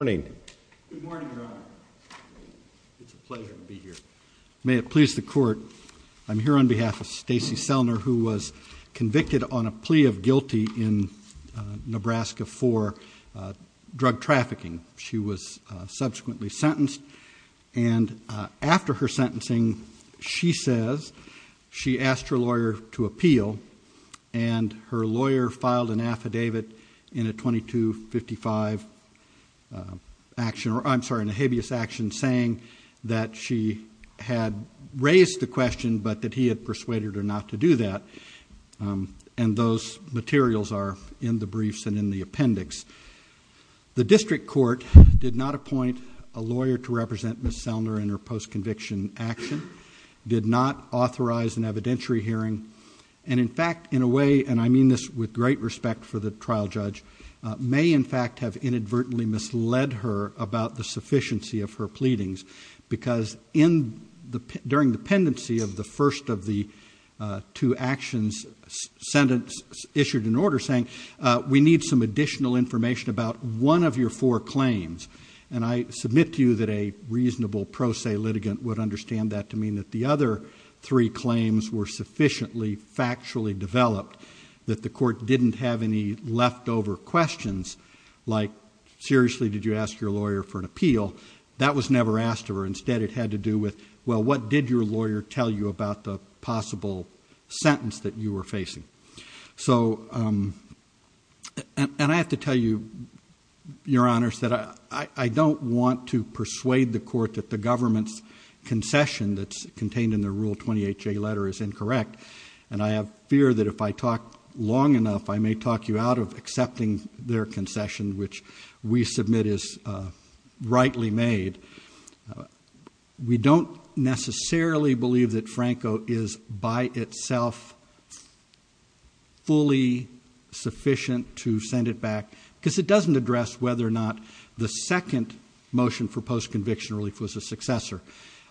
Good morning, Your Honor. It's a pleasure to be here. May it please the Court, I'm here on behalf of Stacey Sellner, who was convicted on a plea of guilty in Nebraska for drug trafficking. She was subsequently sentenced, and after her sentencing, she says she asked her lawyer to appeal, and her lawyer filed an affidavit in a habeas action saying that she had raised the question, but that he had persuaded her not to do that, and those materials are in the briefs and in the appendix. The district court did not appoint a lawyer to represent Ms. Sellner in her post-conviction action, did not authorize an evidentiary hearing, and in fact, in a way, and I mean this with great respect for the trial judge, may in fact have inadvertently misled her about the sufficiency of her pleadings, because during the pendency of the first of the two actions issued in order, saying we need some additional information about one of your four claims, and I submit to you that a reasonable pro se litigant would understand that to mean that the other three claims were sufficiently factually developed, that the court didn't have any leftover questions, like seriously, did you ask your lawyer for an appeal? That was never asked of her. Instead, it had to do with, well, what did your lawyer tell you about the possible sentence that you were facing? So, and I have to tell you, your honors, that I don't want to persuade the court that the government's concession that's contained in the Rule 28J letter is incorrect, and I have fear that if I talk long enough, I may talk you out of accepting their concession, which we submit is rightly made. We don't necessarily believe that Franco is by itself fully sufficient to send it back, because it doesn't address whether or not the second motion for post-conviction relief was a successor.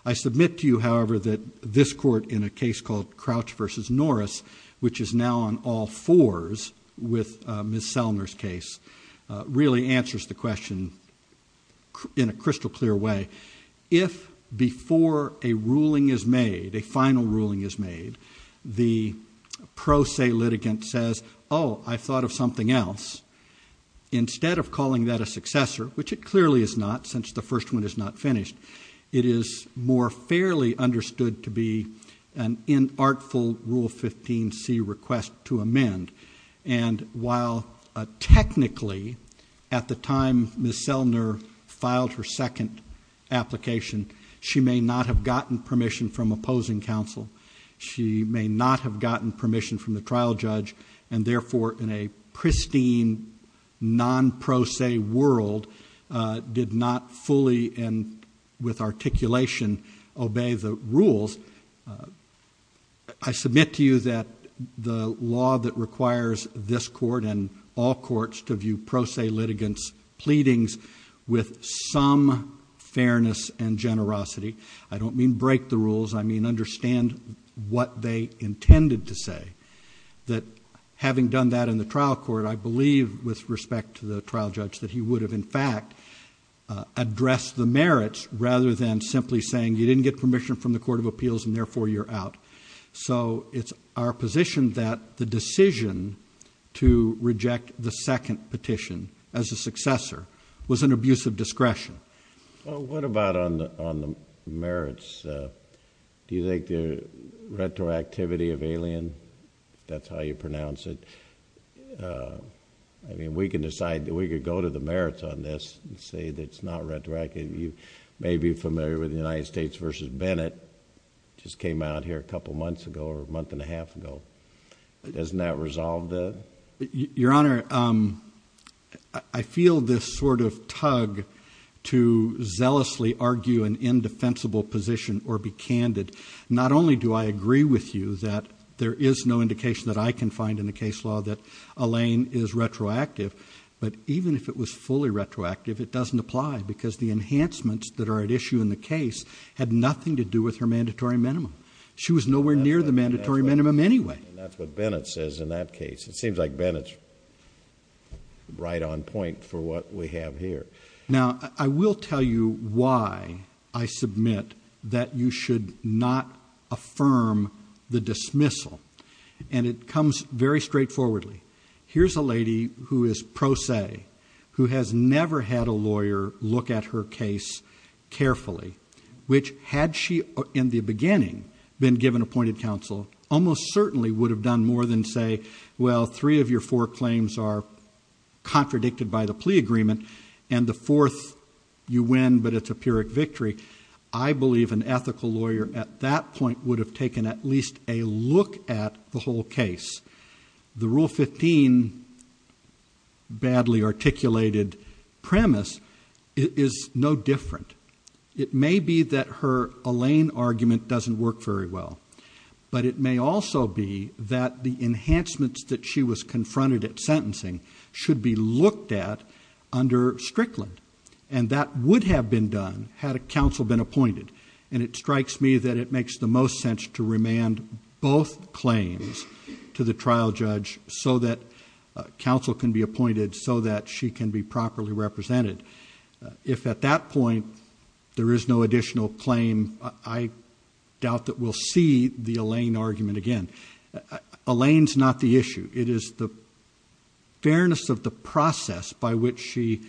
I submit to you, however, that this court, in a case called Crouch v. Norris, which is now on all fours with Ms. Selner's case, really answers the question in a crystal clear way. If before a ruling is made, a final ruling is made, the pro se litigant says, oh, I thought of something else, instead of calling that a successor, which it clearly is not, since the first one is not finished, it is more fairly understood to be an inartful Rule 15C request to amend. And while technically, at the time Ms. Selner filed her second application, she may not have gotten permission from opposing counsel, she may not have gotten permission from the trial judge, and therefore, in a pristine, non-pro se world, did not fully and with articulation obey the rules, I submit to you that the law that requires this court and all courts to view pro se litigants' pleadings with some fairness and generosity, I don't mean break the rules, I mean understand what they intended to say, that having done that in the trial court, I believe, with respect to the trial judge, that he would have, in fact, addressed the merits rather than simply saying you didn't get permission from the court of appeals and therefore you're out. So it's our position that the decision to reject the second petition as a successor was an abuse of discretion. Well, what about on the merits? Do you think the retroactivity of Alien, if that's how you pronounce it, I mean, we can decide, we could go to the merits on this and say that it's not retroactive. You may be familiar with the United States v. Bennett. It just came out here a couple months ago or a month and a half ago. Doesn't that resolve that? Your Honor, I feel this sort of tug to zealously argue an indefensible position or be candid. Not only do I agree with you that there is no indication that I can find in the case law that Alien is retroactive, but even if it was fully retroactive, it doesn't apply because the enhancements that are at issue in the case had nothing to do with her mandatory minimum. She was nowhere near the mandatory minimum anyway. And that's what Bennett says in that case. It seems like Bennett's right on point for what we have here. Now, I will tell you why I submit that you should not affirm the dismissal, and it comes very straightforwardly. Here's a lady who is pro se, who has never had a lawyer look at her case carefully, which had she in the beginning been given appointed counsel, almost certainly would have done more than say, well, three of your four claims are contradicted by the plea agreement, and the fourth you win, but it's a Pyrrhic victory. I believe an ethical lawyer at that point would have taken at least a look at the whole case. The Rule 15 badly articulated premise is no different. It may be that her Alain argument doesn't work very well, but it may also be that the enhancements that she was confronted at sentencing should be looked at under Strickland, and that would have been done had a counsel been appointed. And it strikes me that it makes the most sense to remand both claims to the trial judge so that counsel can be appointed, so that she can be properly represented. If at that point there is no additional claim, I doubt that we'll see the Alain argument again. Alain's not the issue. It is the fairness of the process by which she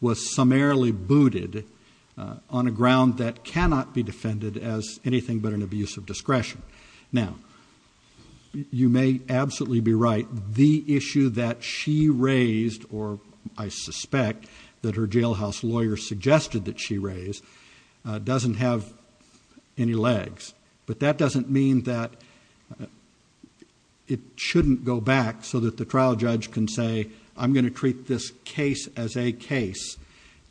was summarily booted on a ground that cannot be defended as anything but an abuse of discretion. Now, you may absolutely be right. The issue that she raised, or I suspect that her jailhouse lawyer suggested that she raise, doesn't have any legs. But that doesn't mean that it shouldn't go back so that the trial judge can say, I'm going to treat this case as a case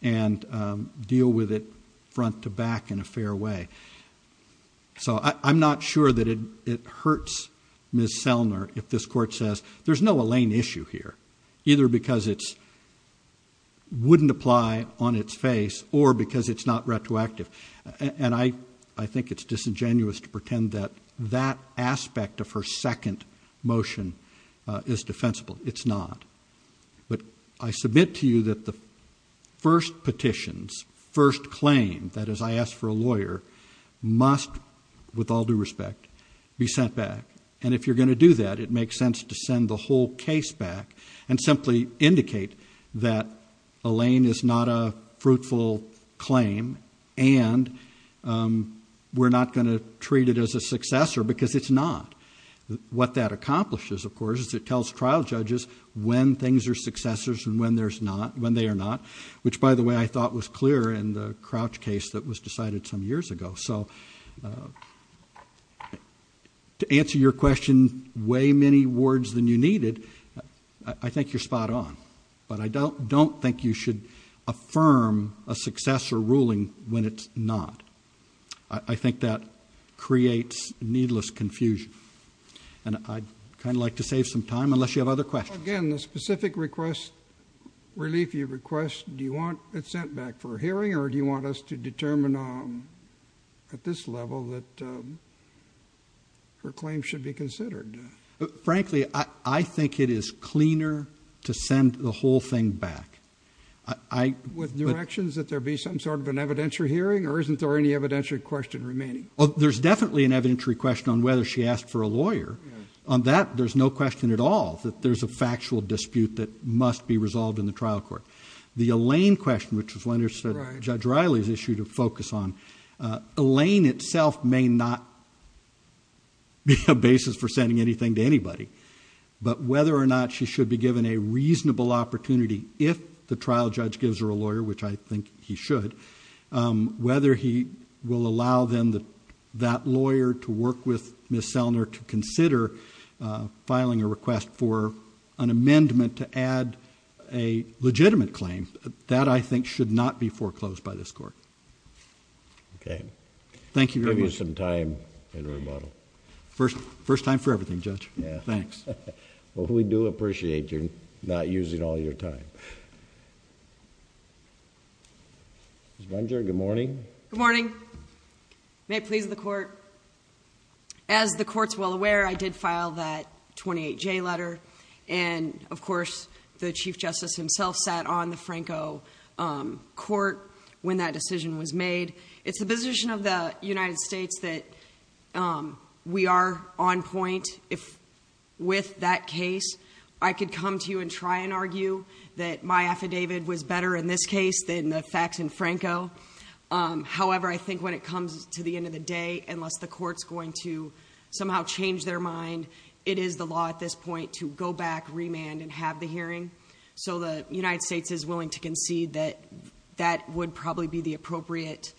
and deal with it front to back in a fair way. So I'm not sure that it hurts Ms. Selner if this court says there's no Alain issue here, either because it wouldn't apply on its face or because it's not retroactive. And I think it's disingenuous to pretend that that aspect of her second motion is defensible. It's not. But I submit to you that the first petitions, first claim, that is I ask for a lawyer, must, with all due respect, be sent back. And if you're going to do that, it makes sense to send the whole case back and simply indicate that Alain is not a fruitful claim and we're not going to treat it as a successor because it's not. What that accomplishes, of course, is it tells trial judges when things are successors and when they are not. Which, by the way, I thought was clear in the Crouch case that was decided some years ago. So to answer your question way many words than you needed, I think you're spot on. But I don't think you should affirm a successor ruling when it's not. I think that creates needless confusion. And I'd kind of like to save some time unless you have other questions. Again, the specific request, relief you request, do you want it sent back for a hearing or do you want us to determine at this level that her claim should be considered? Frankly, I think it is cleaner to send the whole thing back. With new actions, that there be some sort of an evidentiary hearing or isn't there any evidentiary question remaining? Well, there's definitely an evidentiary question on whether she asked for a lawyer. On that, there's no question at all that there's a factual dispute that must be resolved in the trial court. The Alain question, which is one that Judge Riley has issued a focus on, Alain itself may not be a basis for sending anything to anybody. But whether or not she should be given a reasonable opportunity if the trial judge gives her a lawyer, which I think he should, whether he will allow then that lawyer to work with Ms. Selner to consider filing a request for an amendment to add a legitimate claim, that I think should not be foreclosed by this court. Okay. Thank you very much. Give you some time in rebuttal. First time for everything, Judge. Thanks. Well, we do appreciate you not using all your time. Ms. Bunger, good morning. Good morning. May it please the court. As the court's well aware, I did file that 28J letter. And, of course, the Chief Justice himself sat on the Franco court when that decision was made. It's the position of the United States that we are on point with that case. I could come to you and try and argue that my affidavit was better in this case than the facts in Franco. However, I think when it comes to the end of the day, unless the court's going to somehow change their mind, it is the law at this point to go back, remand, and have the hearing. So the United States is willing to concede that that would probably be the appropriate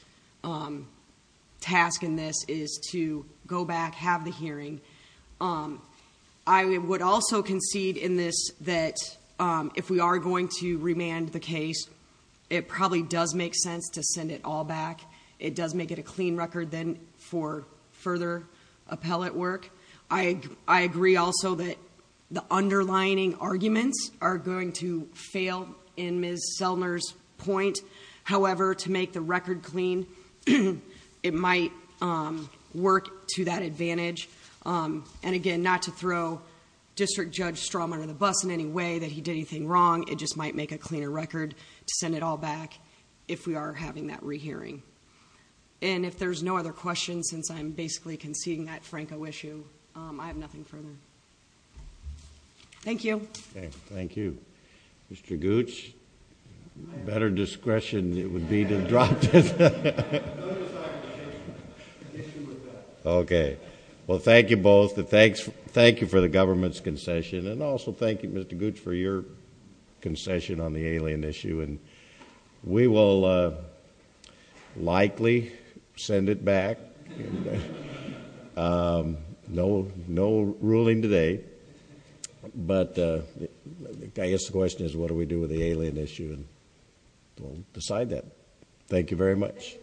task in this, is to go back, have the hearing. I would also concede in this that if we are going to remand the case, it probably does make sense to send it all back. It does make it a clean record then for further appellate work. I agree also that the underlining arguments are going to fail in Ms. Selner's point. However, to make the record clean, it might work to that advantage. And, again, not to throw District Judge Strawman under the bus in any way that he did anything wrong. It just might make a cleaner record to send it all back if we are having that rehearing. And if there's no other questions, since I'm basically conceding that Franco issue, I have nothing further. Thank you. Thank you. Mr. Gooch, better discretion it would be to drop this. No, no, sir. The issue with that. Okay. Well, thank you both. Thank you for the government's concession. And also thank you, Mr. Gooch, for your concession on the alien issue. And we will likely send it back. No ruling today. But I guess the question is, what do we do with the alien issue? We'll decide that. Thank you very much.